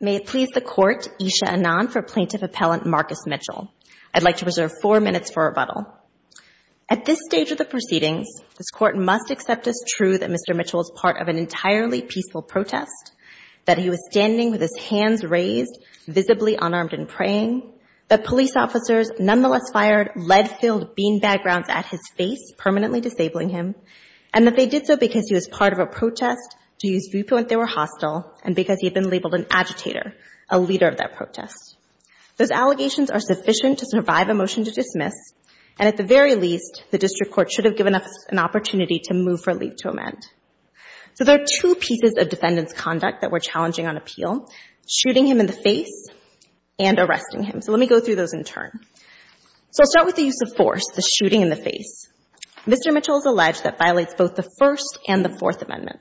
May it please the Court, Isha Anand for Plaintiff Appellant Marcus Mitchell. I'd like to preserve four minutes for rebuttal. At this stage of the proceedings, this Court must accept as true that Mr. Mitchell is part of an entirely peaceful protest, that he was standing with his hands raised, visibly unarmed and praying, that police officers nonetheless fired lead-filled bean-bag rounds at his face, permanently disabling him, and that they did so because he was part of a protest, to use viewpoint they were hostile, and because he had been labeled an agitator, a leader of that protest. Those allegations are sufficient to survive a motion to dismiss, and at the very least, the District Court should have given us an opportunity to move for leave to amend. So there are two pieces of defendant's conduct that we're challenging on appeal, shooting him in the face and arresting him. So let me go through those in turn. So I'll start with the use of force, the shooting in the face. Mr. Mitchell has alleged that violates both the First and the Fourth Amendment.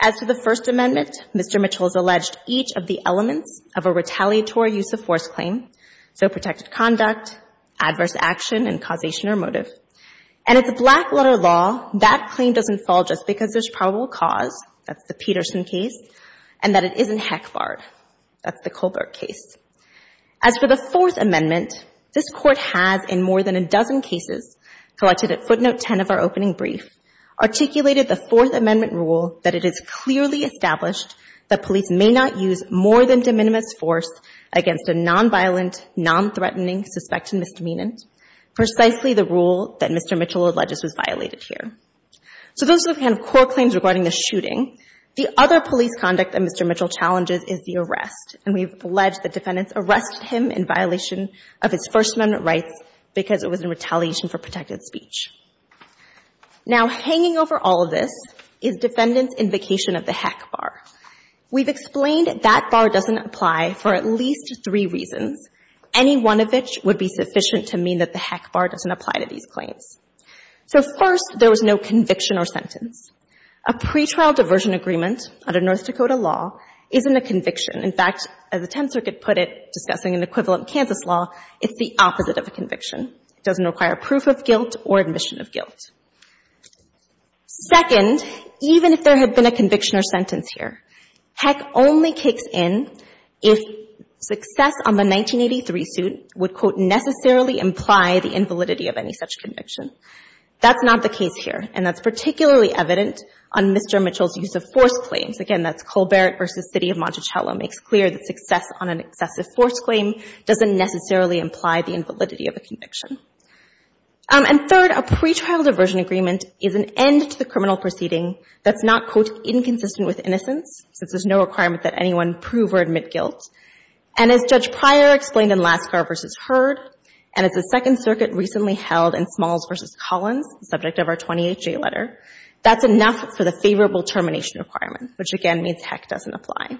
As to the First Amendment, Mr. Mitchell has alleged each of the elements of a retaliatory use of force claim, so protected conduct, adverse action and causation or motive. And if the Blackwater law, that claim doesn't fall just because there's probable cause, that's the Peterson case, and that it isn't Heckfard, that's the Colbert case. As for the Fourth Amendment, this Court has in more than a dozen cases, collected at footnote 10 of our opening brief, articulated the Fourth Amendment rule that it is clearly established that police may not use more than de minimis force against a nonviolent, nonthreatening, suspected misdemeanant, precisely the rule that Mr. Mitchell alleges was violated here. So those are the kind of core claims regarding the shooting. The other police conduct that Mr. Mitchell challenges is the arrest. And we've alleged that defendants arrested him in violation of his First Amendment rights because it was in retaliation for protected speech. Now, hanging over all of this is defendants' invocation of the Heck bar. We've explained that that bar doesn't apply for at least three reasons, any one of which would be sufficient to mean that the Heck bar doesn't apply to these claims. So first, there was no conviction or sentence. A pretrial diversion agreement under North Dakota law isn't a conviction. In fact, as the Tenth Circuit put it, discussing an equivalent Kansas law, it's the opposite of a conviction. It doesn't require proof of guilt or admission of guilt. Second, even if there had been a conviction or sentence here, Heck only kicks in if success on the 1983 suit would, quote, necessarily imply the invalidity of any such conviction. That's not the case here. And that's particularly evident on Mr. Mitchell's use of force claims. Again, that's Colbert v. City of Monticello makes clear that success on an excessive force claim doesn't necessarily imply the invalidity of a conviction. And third, a pretrial diversion agreement is an end to the criminal proceeding that's not, quote, inconsistent with innocence, since there's no requirement that anyone prove or admit guilt. And as Judge Pryor explained in Laskar v. Heard, and as the Second Circuit recently held in Smalls v. Collins, the subject of our 28-J letter, that's enough for the favorable termination requirement, which again means Heck doesn't apply.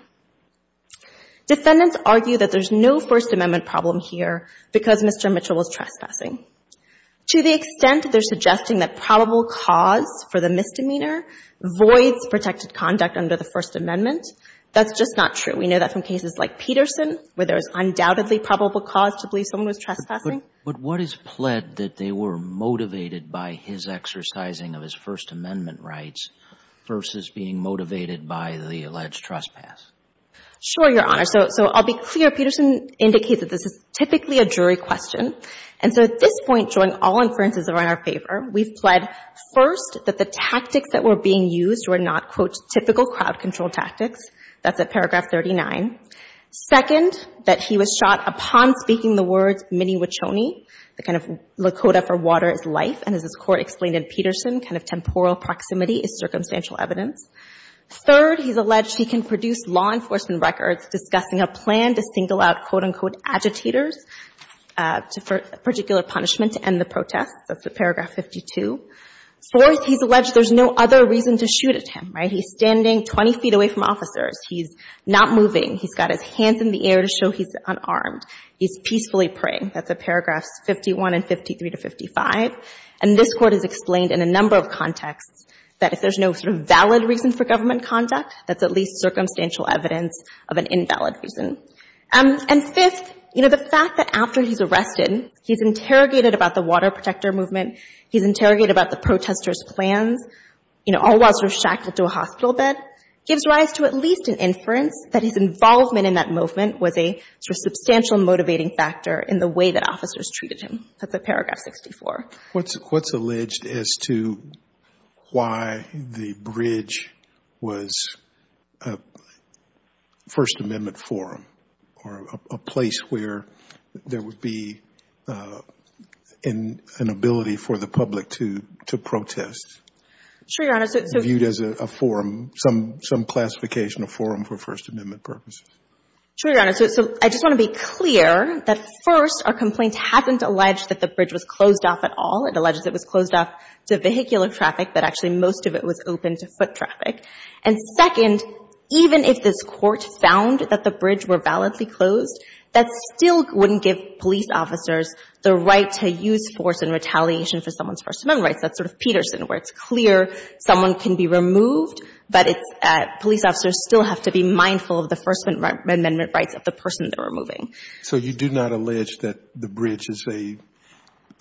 Defendants argue that there's no First Amendment problem here because Mr. Mitchell was trespassing. To the extent they're suggesting that probable cause for the misdemeanor voids protected conduct under the First Amendment, that's just not true. We know that from cases like Peterson, where there's undoubtedly probable cause to believe someone was trespassing. But what is pled that they were motivated by his exercising of his First Amendment rights versus being motivated by the alleged trespass? Sure, Your Honor. So I'll be clear. Peterson indicates that this is typically a jury question. And so at this point, joint all inferences are in our favor. We've pled first that the tactics that were being used were not, quote, typical crowd-control tactics. That's at paragraph 39. Second, that he was shot upon speaking the words mini-Wachoni. The kind of Lakota for water is life, and as this Court explained in Peterson, kind of temporal proximity is circumstantial evidence. Third, he's alleged he can produce law enforcement records discussing a plan to single out, quote, unquote, agitators for particular punishment to end the protest. That's at paragraph 52. Fourth, he's alleged there's no other reason to shoot at him, right? He's standing 20 feet away from officers. He's not moving. He's got his hands in the air to show he's unarmed. He's peacefully praying. That's at paragraphs 51 and 53 to 55. And this Court has explained in a number of contexts that if there's no sort of valid reason for government conduct, that's at least circumstantial evidence of an invalid reason. And fifth, you know, the fact that after he's arrested, he's interrogated about the water protector movement. He's interrogated about the protesters' plans. You know, all while sort of shackled to a hospital bed. Gives rise to at least an inference that his involvement in that movement was a sort of substantial motivating factor in the way that officers treated him. That's at paragraph 64. What's alleged as to why the bridge was a First Amendment forum or a place where there would be an ability for the public to protest? Sure, Your Honor. Viewed as a forum, some classification of forum for First Amendment purposes. Sure, Your Honor. So I just want to be clear that first, our complaint hasn't alleged that the bridge was closed off at all. It alleges it was closed off to vehicular traffic, but actually most of it was open to foot traffic. And second, even if this wouldn't give police officers the right to use force in retaliation for someone's First Amendment rights, that's sort of Peterson where it's clear someone can be removed, but it's police officers still have to be mindful of the First Amendment rights of the person they're removing. So you do not allege that the bridge is a,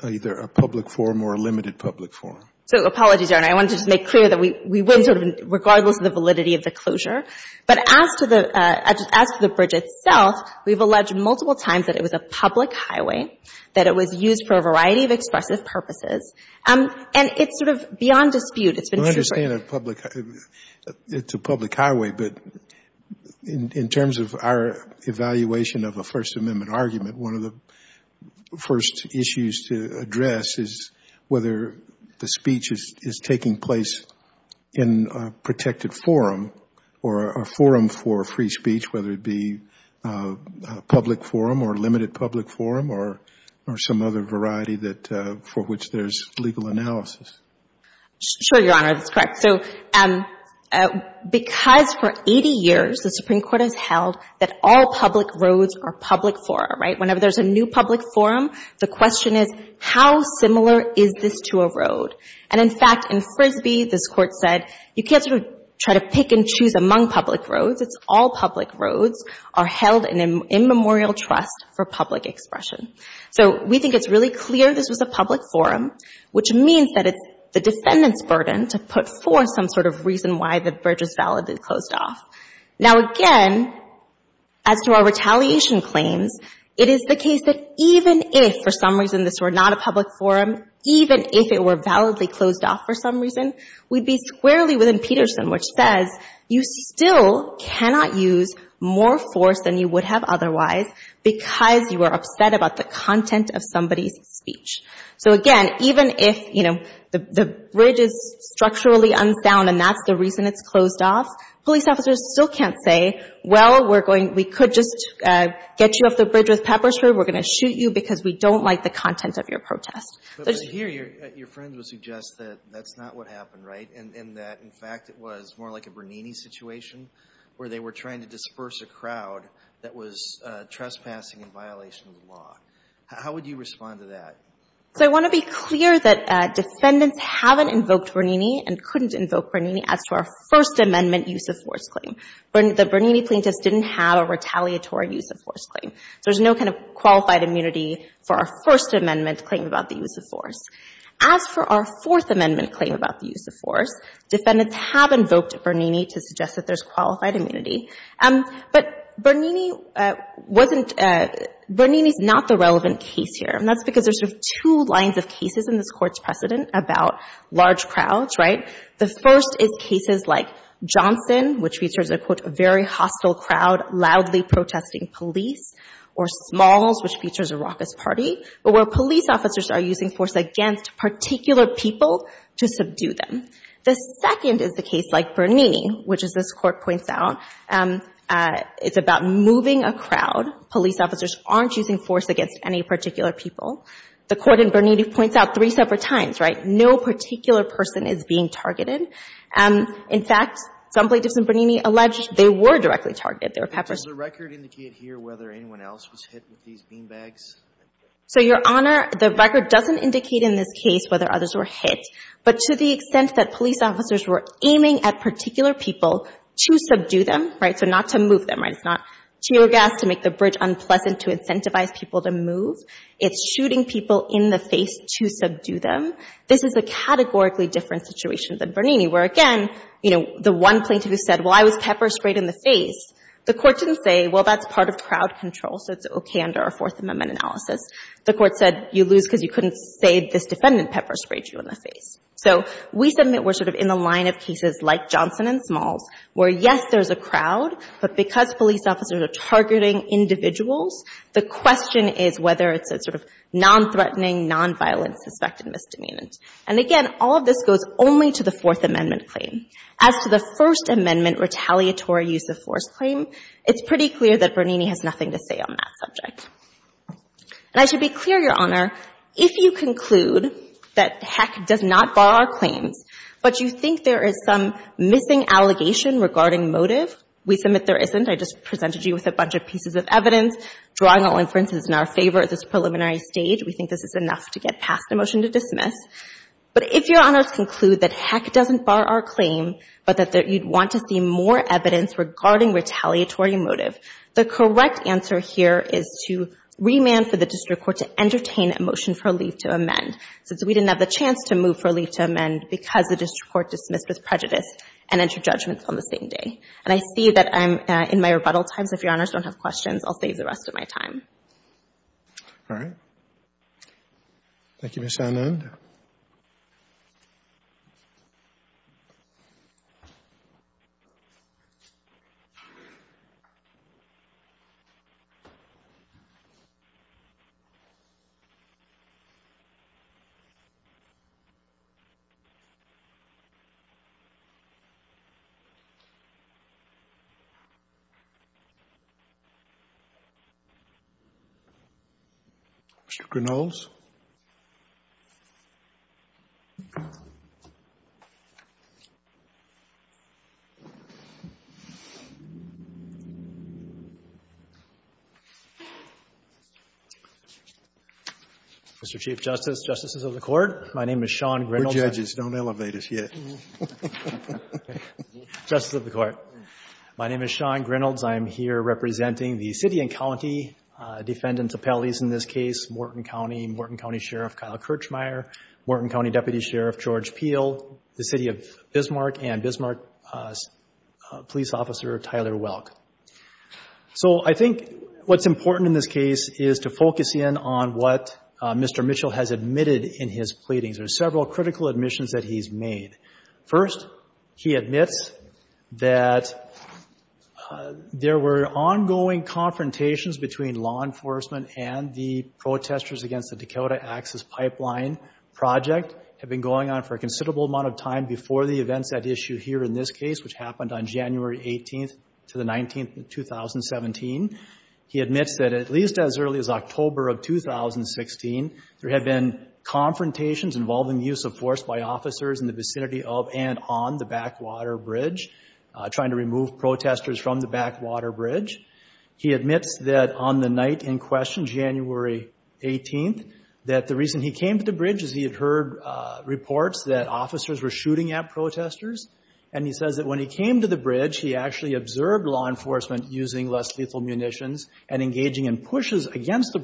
either a public forum or a limited public forum? So apologies, Your Honor. I wanted to just make clear that we wouldn't sort of, regardless of the validity of the closure. But as to the, as to the bridge itself, we've alleged multiple times that it was a public highway, that it was used for a variety of expressive purposes. And it's sort of beyond dispute. It's been true for a We understand a public, it's a public highway, but in terms of our evaluation of a First Amendment argument, one of the first issues to address is whether the speech is taking place in a protected forum or a forum for free speech, whether it be a public forum or a limited public forum or, or some other variety that, for which there's legal analysis. Sure, Your Honor. That's correct. So because for 80 years the Supreme Court has held that all public roads are public forum, right? Whenever there's a new public forum, the question is how similar is this to a road? And in fact, in Frisbee, this Court said you can't sort of try to pick and choose among public roads. It's all public roads are held in immemorial trust for public expression. So we think it's really clear this was a public forum, which means that it's the defendant's burden to put forth some sort of reason why the bridge is validly closed off. Now, again, as to our retaliation claims, it is the case that even if for some reason this were not a public forum, even if it were validly closed off for some reason, we'd be squarely within Peterson, which says you still cannot use more force than you would have otherwise because you are upset about the content of somebody's speech. So again, even if, you know, the bridge is structurally unsound and that's the reason it's closed off, police officers still can't say, well, we're going, we could just get you off the bridge with pepper spray, we're going to shoot you because we don't like the content of your protest. But here, your friend would suggest that that's not what happened, right, and that in fact it was more like a Bernini situation where they were trying to disperse a crowd that was trespassing in violation of the law. How would you respond to that? So I want to be clear that defendants haven't invoked Bernini and couldn't invoke Bernini as to our First Amendment use of force claim. The Bernini plaintiffs didn't have a retaliatory use of force claim. So there's no kind of qualified immunity for our First Amendment claim about the use of force. As for our Fourth Amendment claim about the use of force, defendants have invoked Bernini to suggest that there's qualified immunity. But Bernini wasn't, Bernini's not the relevant case here, and that's because there's sort of two lines of cases in this Court's precedent about large crowds, right? The first is cases like Johnson, which features a, quote, a very hostile crowd loudly protesting police, or Smalls, which features a raucous party, but where police officers are using force against particular people to subdue them. The second is the case like Bernini, which as this Court points out, it's about moving a crowd. Police officers aren't using force against any particular people. The Court in Bernini points out three separate times, right? No particular person is being targeted. In fact, some plaintiffs in Bernini allege they were directly targeted. They were peppered. But does the record indicate here whether anyone else was hit with these beanbags? So, Your Honor, the record doesn't indicate in this case whether others were hit. But to the extent that police officers were aiming at particular people to subdue them, right, so not to move them, right, it's not tear gas to make the bridge unpleasant to incentivize people to move. It's shooting people in the face to subdue them. This is a categorically different situation than Bernini, where, again, you know, the one plaintiff who said, well, I was pepper sprayed in the face, the Court didn't say, well, that's part of crowd control, so it's okay under our Fourth Amendment analysis. The Court said you lose because you couldn't say this defendant pepper sprayed you in the face. So we submit we're sort of in the line of cases like Johnson and Smalls, where, yes, there's a crowd, but because police officers are targeting individuals, the question is whether it's a sort of nonthreatening, nonviolent suspected misdemeanant. And, again, all of this goes only to the Fourth Amendment claim. As to the First Amendment retaliatory use of force claim, it's pretty clear that Bernini has nothing to say on that subject. And I should be clear, Your Honor, if you conclude that, heck, it does not bar our claims, but you think there is some missing allegation regarding motive, we submit there isn't. I just presented you with a bunch of pieces of evidence, drawing all inferences in our favor at this preliminary stage. We think this is enough to get past a motion to dismiss. But if, Your Honor, to conclude that, heck, it doesn't bar our claim, but that you'd want to see more evidence regarding retaliatory motive, the correct answer here is to remand for the district court to entertain a motion for a leave to amend, since we didn't have the chance to move for a leave to amend, because the district court dismissed with prejudice and entered judgment on the same day. And I see that I'm in my rebuttal time, so if Your Honors don't have questions, I'll save the rest of my time. All right. Thank you, Ms. Anand. Mr. Grinnells? Mr. Chief Justice, Justices of the Court, my name is Sean Grinnells. We're judges. Don't elevate us yet. Justice of the Court, my name is Sean Grinnells. I'm here representing the city and county defendants appellees in this case, Morton County, Morton County Sheriff Kyle Kirchmeier, Morton County Deputy Sheriff George Peel, the City of Bismarck, and Bismarck Police Officer Tyler Welk. So I think what's important in this case is to focus in on what Mr. Mitchell has admitted in his pleadings. There's several critical admissions that he's made. First, he admits that there were ongoing confrontations between law enforcement and the protesters against the Dakota Access Pipeline project had been going on for a considerable amount of time before the events at issue here in this case, which happened on January 18th to the 19th of 2017. He admits that at least as early as October of 2016, there had been confrontations involving use of force by officers in the vicinity of and on the Backwater Bridge, trying to remove protesters from the Backwater Bridge. He admits that on the night in question, January 18th, that the reason he came to the bridge is he had heard reports that officers were shooting at protesters. And he says that when he came to the bridge, he actually observed law enforcement using less lethal munitions and engaging in pushes against the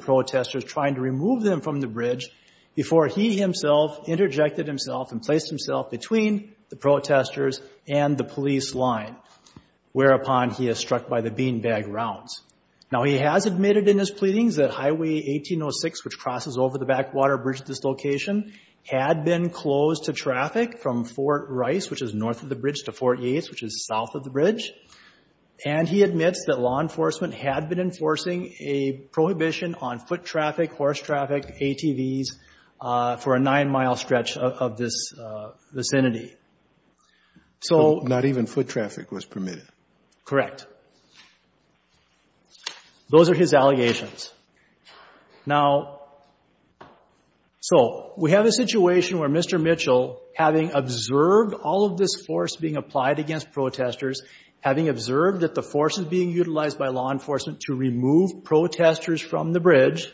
interjected himself and placed himself between the protesters and the police line, whereupon he is struck by the beanbag rounds. Now, he has admitted in his pleadings that Highway 1806, which crosses over the Backwater Bridge dislocation, had been closed to traffic from Fort Rice, which is north of the bridge to Fort Yates, which is south of the bridge. And he admits that law enforcement had been enforcing a prohibition on foot traffic, horse traffic, ATVs for a nine mile stretch of this vicinity. So not even foot traffic was permitted. Correct. Those are his allegations. Now, so we have a situation where Mr. Mitchell, having observed all of this force being applied against protesters, having observed that the force is being utilized by law enforcement to remove protesters from the bridge,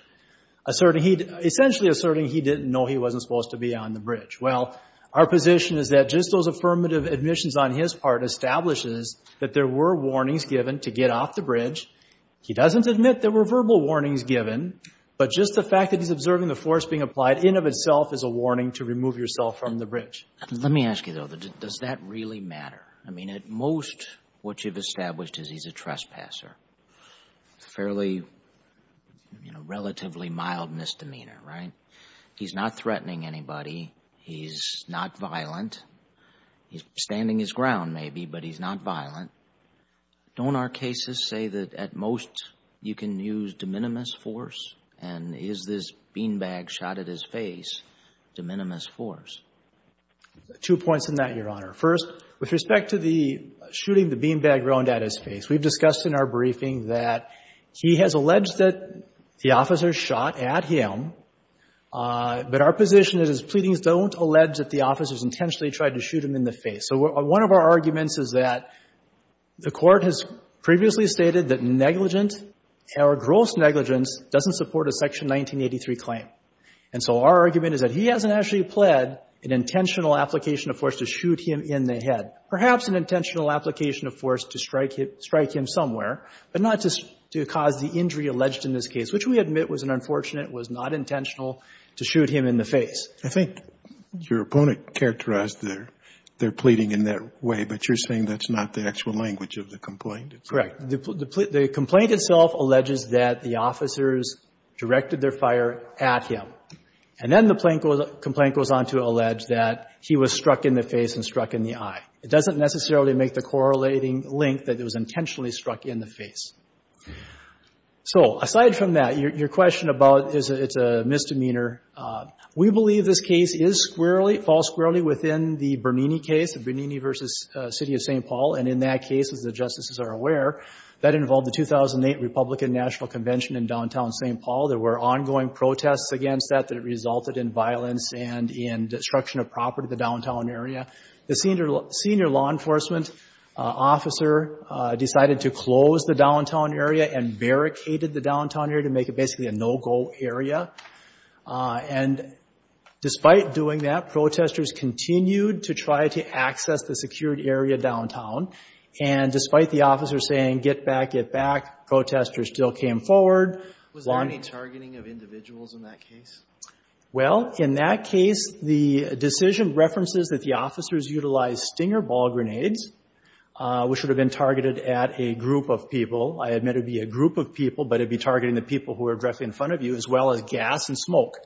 asserting he, essentially asserting he didn't know he wasn't supposed to be on the bridge. Well, our position is that just those affirmative admissions on his part establishes that there were warnings given to get off the bridge. He doesn't admit there were verbal warnings given, but just the fact that he's observing the force being applied in of itself is a warning to remove yourself from the bridge. Let me ask you though, does that really matter? I mean, at most, what you've established is he's a trespasser. Fairly, you know, relatively mild misdemeanor, right? He's not threatening anybody. He's not violent. He's standing his ground maybe, but he's not violent. Don't our cases say that at most you can use de minimis force? And is this beanbag shot at his face de minimis force? Two points in that, Your Honor. First, with respect to the shooting the beanbag round at his face, we've discussed in our briefing that he has alleged that the officer shot at him, but our position is his pleadings don't allege that the officer's intentionally tried to shoot him in the face. So one of our arguments is that the court has previously stated that negligent or gross negligence doesn't support a section 1983 claim. And so our argument is that he hasn't actually pled an intentional application of force to shoot him in the head, perhaps an intentional application of force to strike him somewhere, but not to cause the injury alleged in this case, which we admit was an unfortunate, was not intentional to shoot him in the face. I think your opponent characterized their pleading in that way, but you're saying that's not the actual language of the complaint. Correct. The complaint itself alleges that the officers directed their fire at him. And then the complaint goes on to allege that he was struck in the face and struck in the eye. It doesn't necessarily make the correlating link that it was intentionally struck in the face. So aside from that, your question about is it's a misdemeanor. We believe this case is squarely, false squarely within the Bernini case of Bernini versus City of St. Paul. And in that case, as the justices are aware, that involved the 2008 Republican National Convention in downtown St. Paul. There were ongoing protests against that, that it resulted in violence and in destruction of property, the downtown area. The senior law enforcement officer decided to close the downtown area and barricaded the downtown area to make it basically a no-go area. And despite doing that, protesters continued to try to access the secured area downtown. And despite the officer saying, get back, get back, protesters still came forward. Was there any targeting of individuals in that case? Well, in that case, the decision references that the officers utilize stinger ball grenades, which would have been targeted at a group of people. I admit it'd be a group of people, but it'd be targeting the people who are directly in front of you as well as gas and smoke.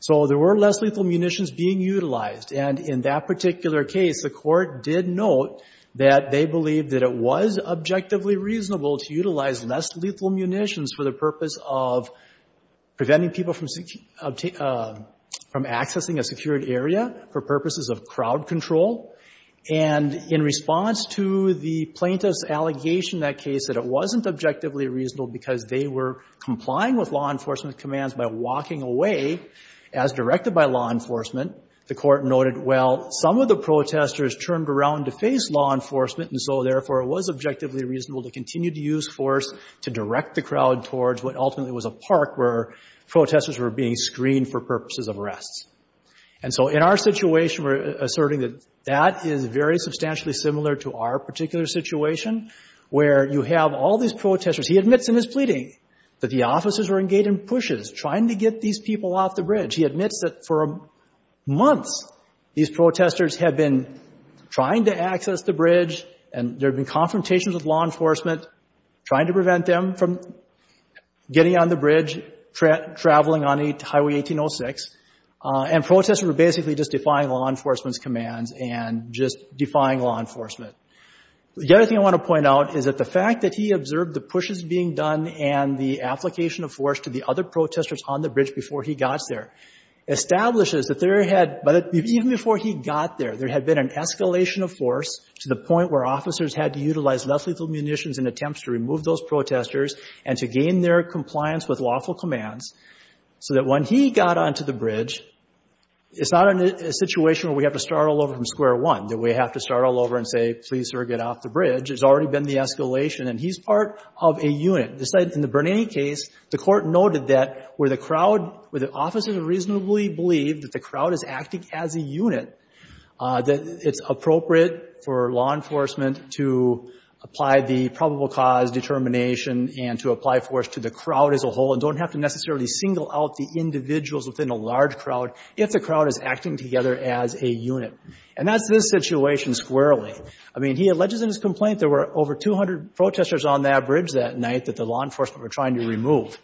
So there were less lethal munitions being utilized. And in that particular case, the court did note that they believed that it was objectively reasonable to utilize less lethal munitions for the purpose of preventing people from accessing a secured area for purposes of crowd control. And in response to the plaintiff's allegation in that case that it wasn't objectively reasonable because they were complying with law enforcement commands by walking away as directed by law enforcement, the court noted, well, some of the protesters turned around to face law enforcement and so therefore it was objectively reasonable to continue to use force to direct the crowd towards what protesters were being screened for purposes of arrests. And so in our situation, we're asserting that that is very substantially similar to our particular situation where you have all these protesters. He admits in his pleading that the officers were engaged in pushes trying to get these people off the bridge. He admits that for months, these protesters have been trying to access the bridge and there have been confrontations with law enforcement trying to prevent them from traveling on Highway 1806 and protesters were basically just defying law enforcement's commands and just defying law enforcement. The other thing I want to point out is that the fact that he observed the pushes being done and the application of force to the other protesters on the bridge before he got there establishes that there had, even before he got there, there had been an escalation of force to the point where officers had to utilize less lethal munitions in attempts to remove those protesters and to gain their So that when he got onto the bridge, it's not a situation where we have to start all over from square one, that we have to start all over and say, please, sir, get off the bridge. It's already been the escalation and he's part of a unit. This side, in the Bernini case, the court noted that where the crowd, where the officers reasonably believed that the crowd is acting as a unit, that it's appropriate for law enforcement to apply the probable cause determination and to single out the individuals within a large crowd if the crowd is acting together as a unit. And that's this situation squarely. I mean, he alleges in his complaint, there were over 200 protesters on that bridge that night that the law enforcement were trying to remove.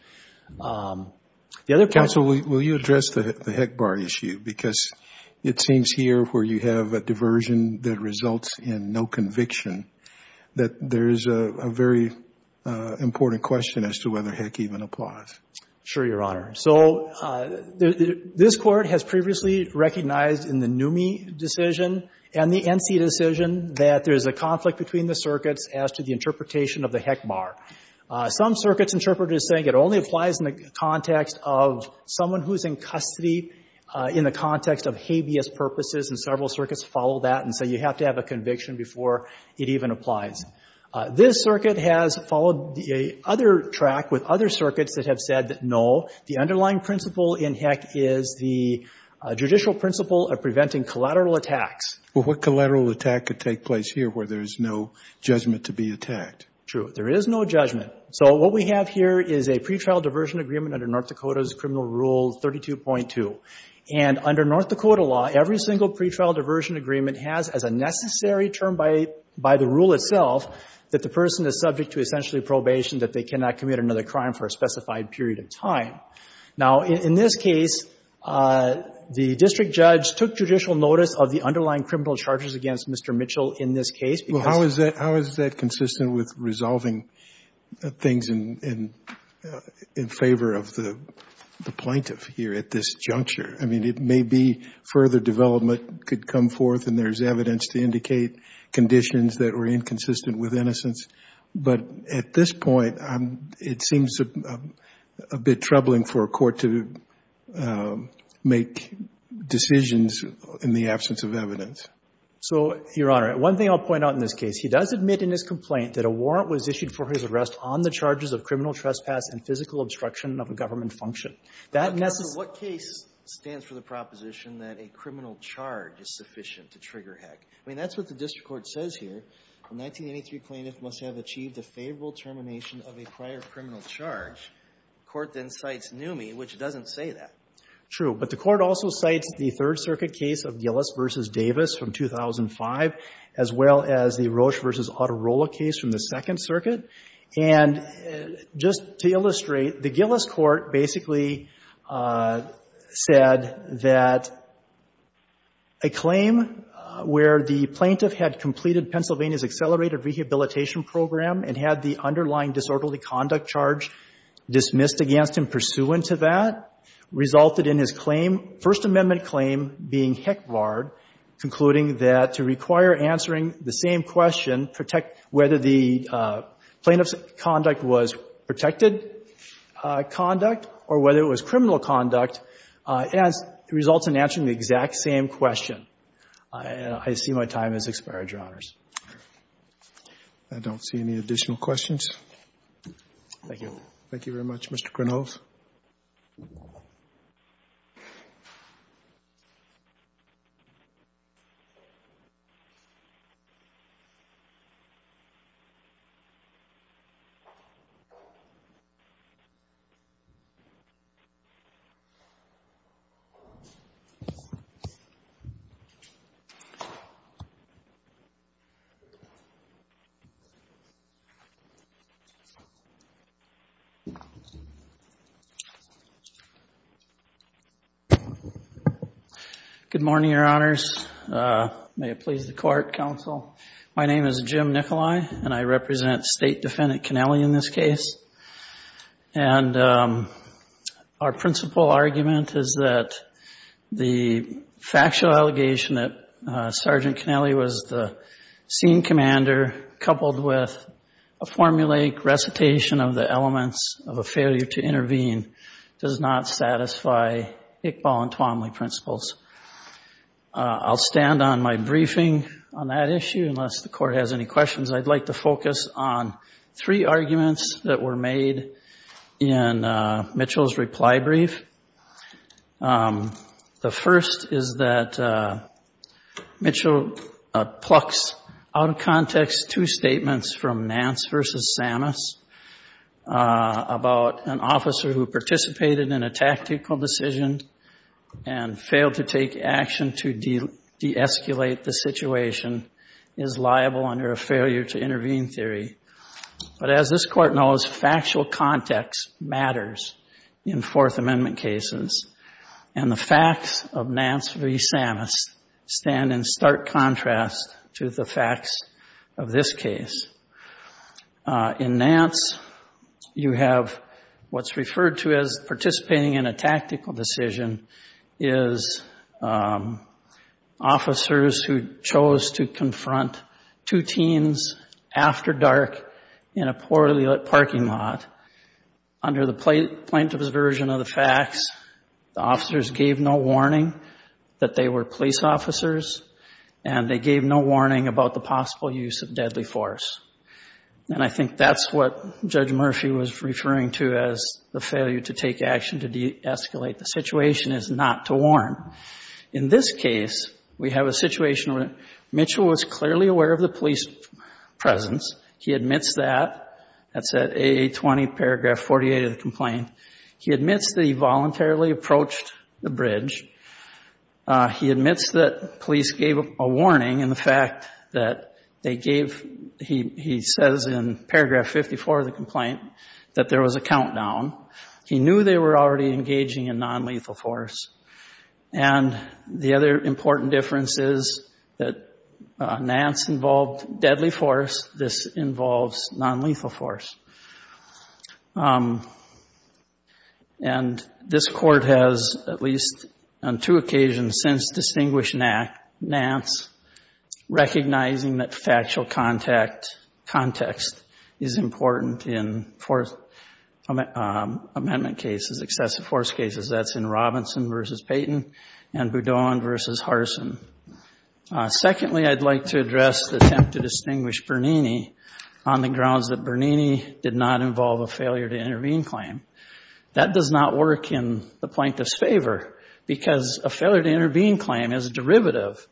The other- Counsel, will you address the Heck bar issue? Because it seems here where you have a diversion that results in no conviction, that there's a very important question as to whether Heck even applies. Sure, Your Honor. So this court has previously recognized in the NUME decision and the NC decision that there's a conflict between the circuits as to the interpretation of the Heck bar. Some circuits interpreted as saying it only applies in the context of someone who's in custody in the context of habeas purposes, and several circuits follow that and say you have to have a conviction before it even applies. This circuit has followed the other track with other circuits that have said that no, the underlying principle in Heck is the judicial principle of preventing collateral attacks. Well, what collateral attack could take place here where there is no judgment to be attacked? True. There is no judgment. So what we have here is a pretrial diversion agreement under North Dakota's criminal rule 32.2. And under North Dakota law, every single pretrial diversion agreement has as a that the person is subject to essentially probation that they cannot commit another crime for a specified period of time. Now, in this case, the district judge took judicial notice of the underlying criminal charges against Mr. Mitchell in this case. Well, how is that consistent with resolving things in favor of the plaintiff here at this juncture? I mean, it may be further development could come forth and there's evidence to with innocence. But at this point, it seems a bit troubling for a court to make decisions in the absence of evidence. So, Your Honor, one thing I'll point out in this case, he does admit in his complaint that a warrant was issued for his arrest on the charges of criminal trespass and physical obstruction of a government function. That necessary... What case stands for the proposition that a criminal charge is sufficient to trigger Heck? I mean, that's what the district court says here. A 1983 plaintiff must have achieved a favorable termination of a prior criminal charge. Court then cites Neumey, which doesn't say that. True. But the court also cites the Third Circuit case of Gillis v. Davis from 2005, as well as the Roche v. Autorola case from the Second Circuit. And just to illustrate, the Gillis court basically said that a claim where the plaintiff had completed Pennsylvania's accelerated rehabilitation program and had the underlying disorderly conduct charge dismissed against him pursuant to that resulted in his claim, First Amendment claim, being Heck barred, concluding that to require answering the same question, whether the plaintiff's conduct was protected conduct or whether it was criminal conduct, it results in answering the exact same question. I see my time has expired, Your Honors. I don't see any additional questions. Thank you. Thank you very much, Mr. Grunov. Good morning, Your Honors. May it please the court, counsel. My name is Jim Nicolai and I represent State Defendant Kennelly in this case. And our principal argument is that the factual allegation that Sergeant Kennelly was the scene commander coupled with a formulaic recitation of the elements of a failure to intervene does not satisfy Iqbal and Twomley principles. I'll stand on my briefing on that issue, unless the court has any questions. I'd like to focus on three arguments that were made in Mitchell's reply brief. The first is that Mitchell plucks out of context two statements from Nance versus Samus about an officer who participated in a tactical decision and failed to take a failure to intervene theory. But as this court knows, factual context matters in Fourth Amendment cases and the facts of Nance v. Samus stand in stark contrast to the facts of this case. In Nance, you have what's referred to as participating in a tactical decision is officers who chose to confront two teens after dark in a poorly lit parking lot. Under the plaintiff's version of the facts, the officers gave no warning that they were police officers and they gave no warning about the possible use of deadly force. And I think that's what Judge Murphy was referring to as the failure to take action to de-escalate the situation is not to warn. In this case, we have a situation where Mitchell was clearly aware of the police presence, he admits that, that's at 820 paragraph 48 of the complaint, he admits that he voluntarily approached the bridge, he admits that police gave a warning in the fact that they gave, he says in paragraph 54 of the complaint, that there was a countdown, he knew they were already engaging in non-lethal force. And the other important difference is that Nance involved deadly force, this involves non-lethal force. And this court has, at least on two occasions since distinguishing Nance, recognizing that factual context is important in amendment cases, excessive force cases, that's in Robinson versus Payton and Boudon versus Harsin. Secondly, I'd like to address the attempt to distinguish Bernini on the grounds that Bernini did not involve a failure to intervene claim. That does not work in the plaintiff's favor because a failure to intervene claim is a derivative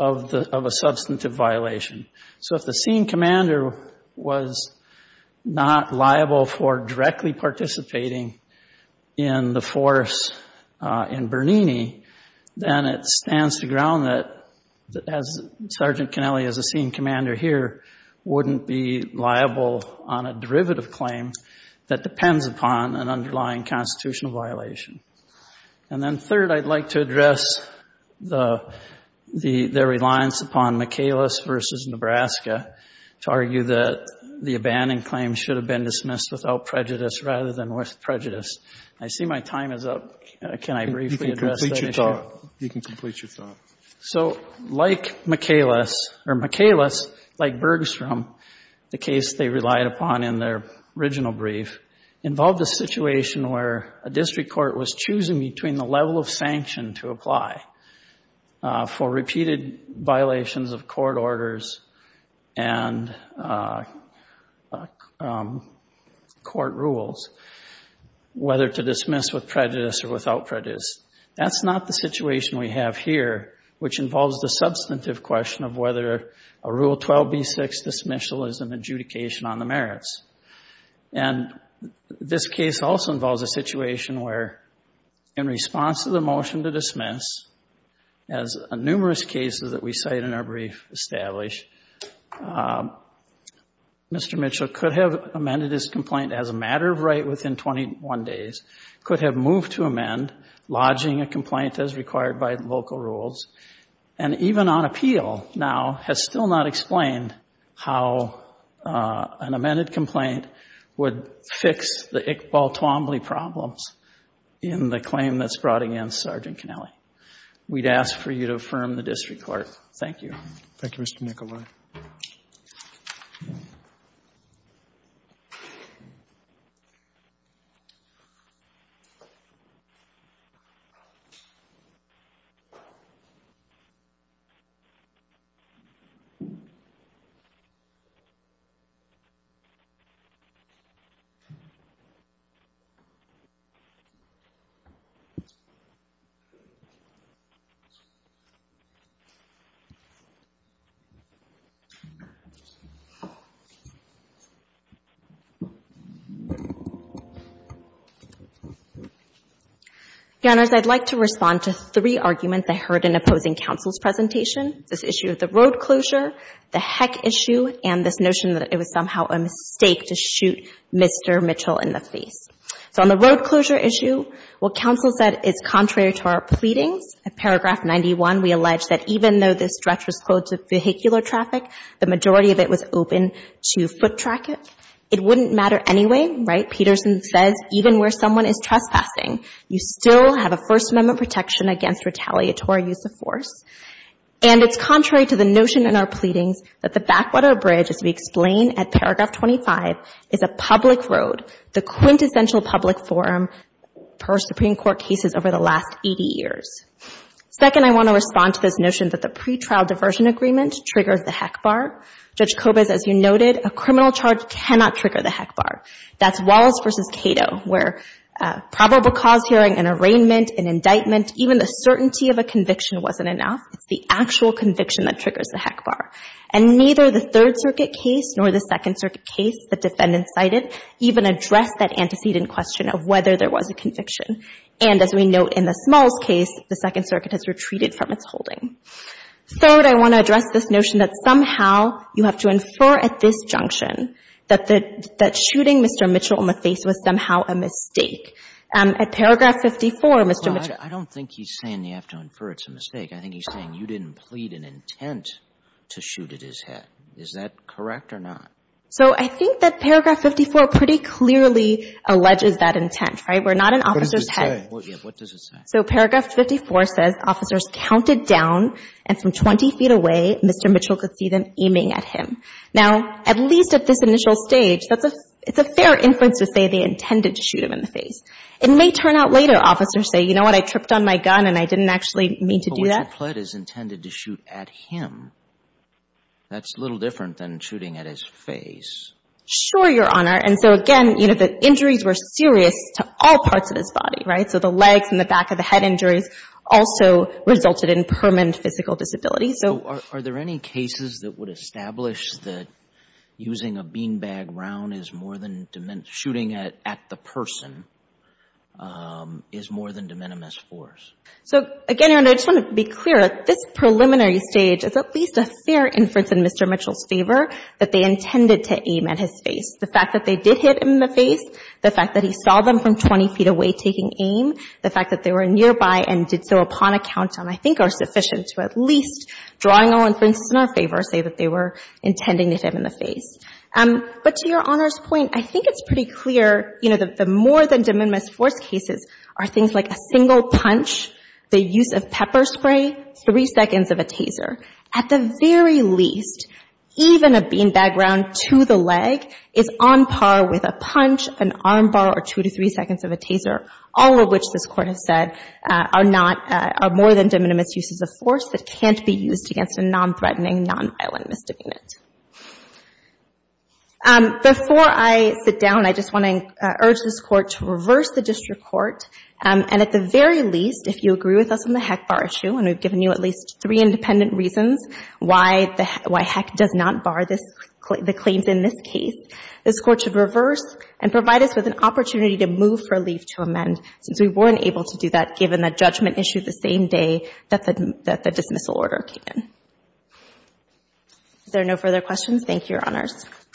of a substantive violation. So if the scene commander was not liable for directly participating in the force in Bernini, then it stands to ground that, as Sergeant Kennelly as a scene commander here, wouldn't be liable on a derivative claim that depends upon an underlying constitutional violation. And then third, I'd like to address the, the, their reliance upon McAles versus Nebraska to argue that the abandoned claim should have been dismissed without prejudice rather than with prejudice. I see my time is up. Can I briefly address that issue? You can complete your thought. So like McAles, or McAles, like Bergstrom, the case they relied upon in their original brief, involved a situation where a district court was choosing between the level of sanction to apply for repeated violations of court orders and court rules, whether to dismiss with prejudice or without prejudice. That's not the situation we have here, which involves the substantive question of whether a Rule 12b-6 dismissal is an adjudication on the merits. And this case also involves a situation where in response to the motion to dismiss, as numerous cases that we cite in our brief establish, Mr. Mitchell could have amended his complaint as a matter of right within 21 days, could have moved to amend, lodging a complaint as required by local rules. And even on appeal now has still not explained how an amended complaint would fix the Iqbal-Toomblee problems in the claim that's brought against Sergeant Kennelly. We'd ask for you to affirm the district court. Thank you. Thank you, Mr. Nicolai. Your Honors, I'd like to respond to three arguments I heard in a long time regarding being Belarus in exclusion. First, on the road closure issue, Mr. judge Napoleon asked the district court to report to Mr. complaints and complaints were projected to be more reliable. And this was rooted in declined reputations of mission and duty safety by the federal government. This issue of the road closure. And it's contrary to the notion in our pleadings that the backwater bridge, as we explain at paragraph 25 is a public road, the quintessential public forum per Supreme court cases over the last 80 years. Second, I want to respond to this notion that the pretrial diversion agreement triggers the heck bar judge Cobas. As you noted, a criminal charge cannot trigger the heck bar that's Wallace versus Cato where a probable cause hearing and arraignment and indictment, even the certainty of a conviction enough, it's the actual conviction that triggers the heck bar and neither the third circuit case nor the second circuit case, the defendant cited even address that antecedent question of whether there was a conviction. And as we note in the smalls case, the second circuit has retreated from its holding. Third, I want to address this notion that somehow you have to infer at this junction that the, that shooting Mr. Mitchell in the face was somehow a mistake. Um, at paragraph 54, Mr. Mitchell, I don't think he's saying you have to infer it's a mistake. I think he's saying you didn't plead an intent to shoot at his head. Is that correct or not? So I think that paragraph 54 pretty clearly alleges that intent, right? We're not an officer's head. What does it say? So paragraph 54 says officers counted down and from 20 feet away, Mr. Mitchell could see them aiming at him. Now, at least at this initial stage, that's a, it's a fair inference to say they intended to shoot him in the face. It may turn out later, officers say, you know what? I tripped on my gun and I didn't actually mean to do that. Plead is intended to shoot at him. That's a little different than shooting at his face. Sure, Your Honor. And so again, you know, the injuries were serious to all parts of his body, right? So the legs and the back of the head injuries also resulted in permanent physical disability. So are there any cases that would establish that using a beanbag round is more than shooting at the person, um, is more than de minimis force? So again, Your Honor, I just want to be clear. At this preliminary stage, it's at least a fair inference in Mr. Mitchell's favor that they intended to aim at his face. The fact that they did hit him in the face, the fact that he saw them from 20 feet away taking aim, the fact that they were nearby and did so upon a countdown, I think are sufficient to at least drawing all inferences in our favor, say that they were intending to hit him in the face. Um, but to Your Honor's point, I think it's pretty clear, you know, that the more than de minimis force cases are things like a single punch, the use of pepper spray, three seconds of a taser. At the very least, even a beanbag round to the leg is on par with a punch, an armbar, or two to three seconds of a taser, all of which this court has said, uh, are not, uh, are more than de minimis uses of force that can't be used against a non-threatening, non-violent misdemeanant. Um, before I sit down, I just want to, uh, urge this court to reverse the district court, um, and at the very least, if you agree with us on the Heck bar issue, and we've given you at least three independent reasons why the, why Heck does not bar this, the claims in this case, this court should reverse and provide us with an opportunity to move for a leave to amend, since we weren't able to do that given the judgment issued the same day that the, that the dismissal order came in. Is there no further questions? Thank you, Your Honors.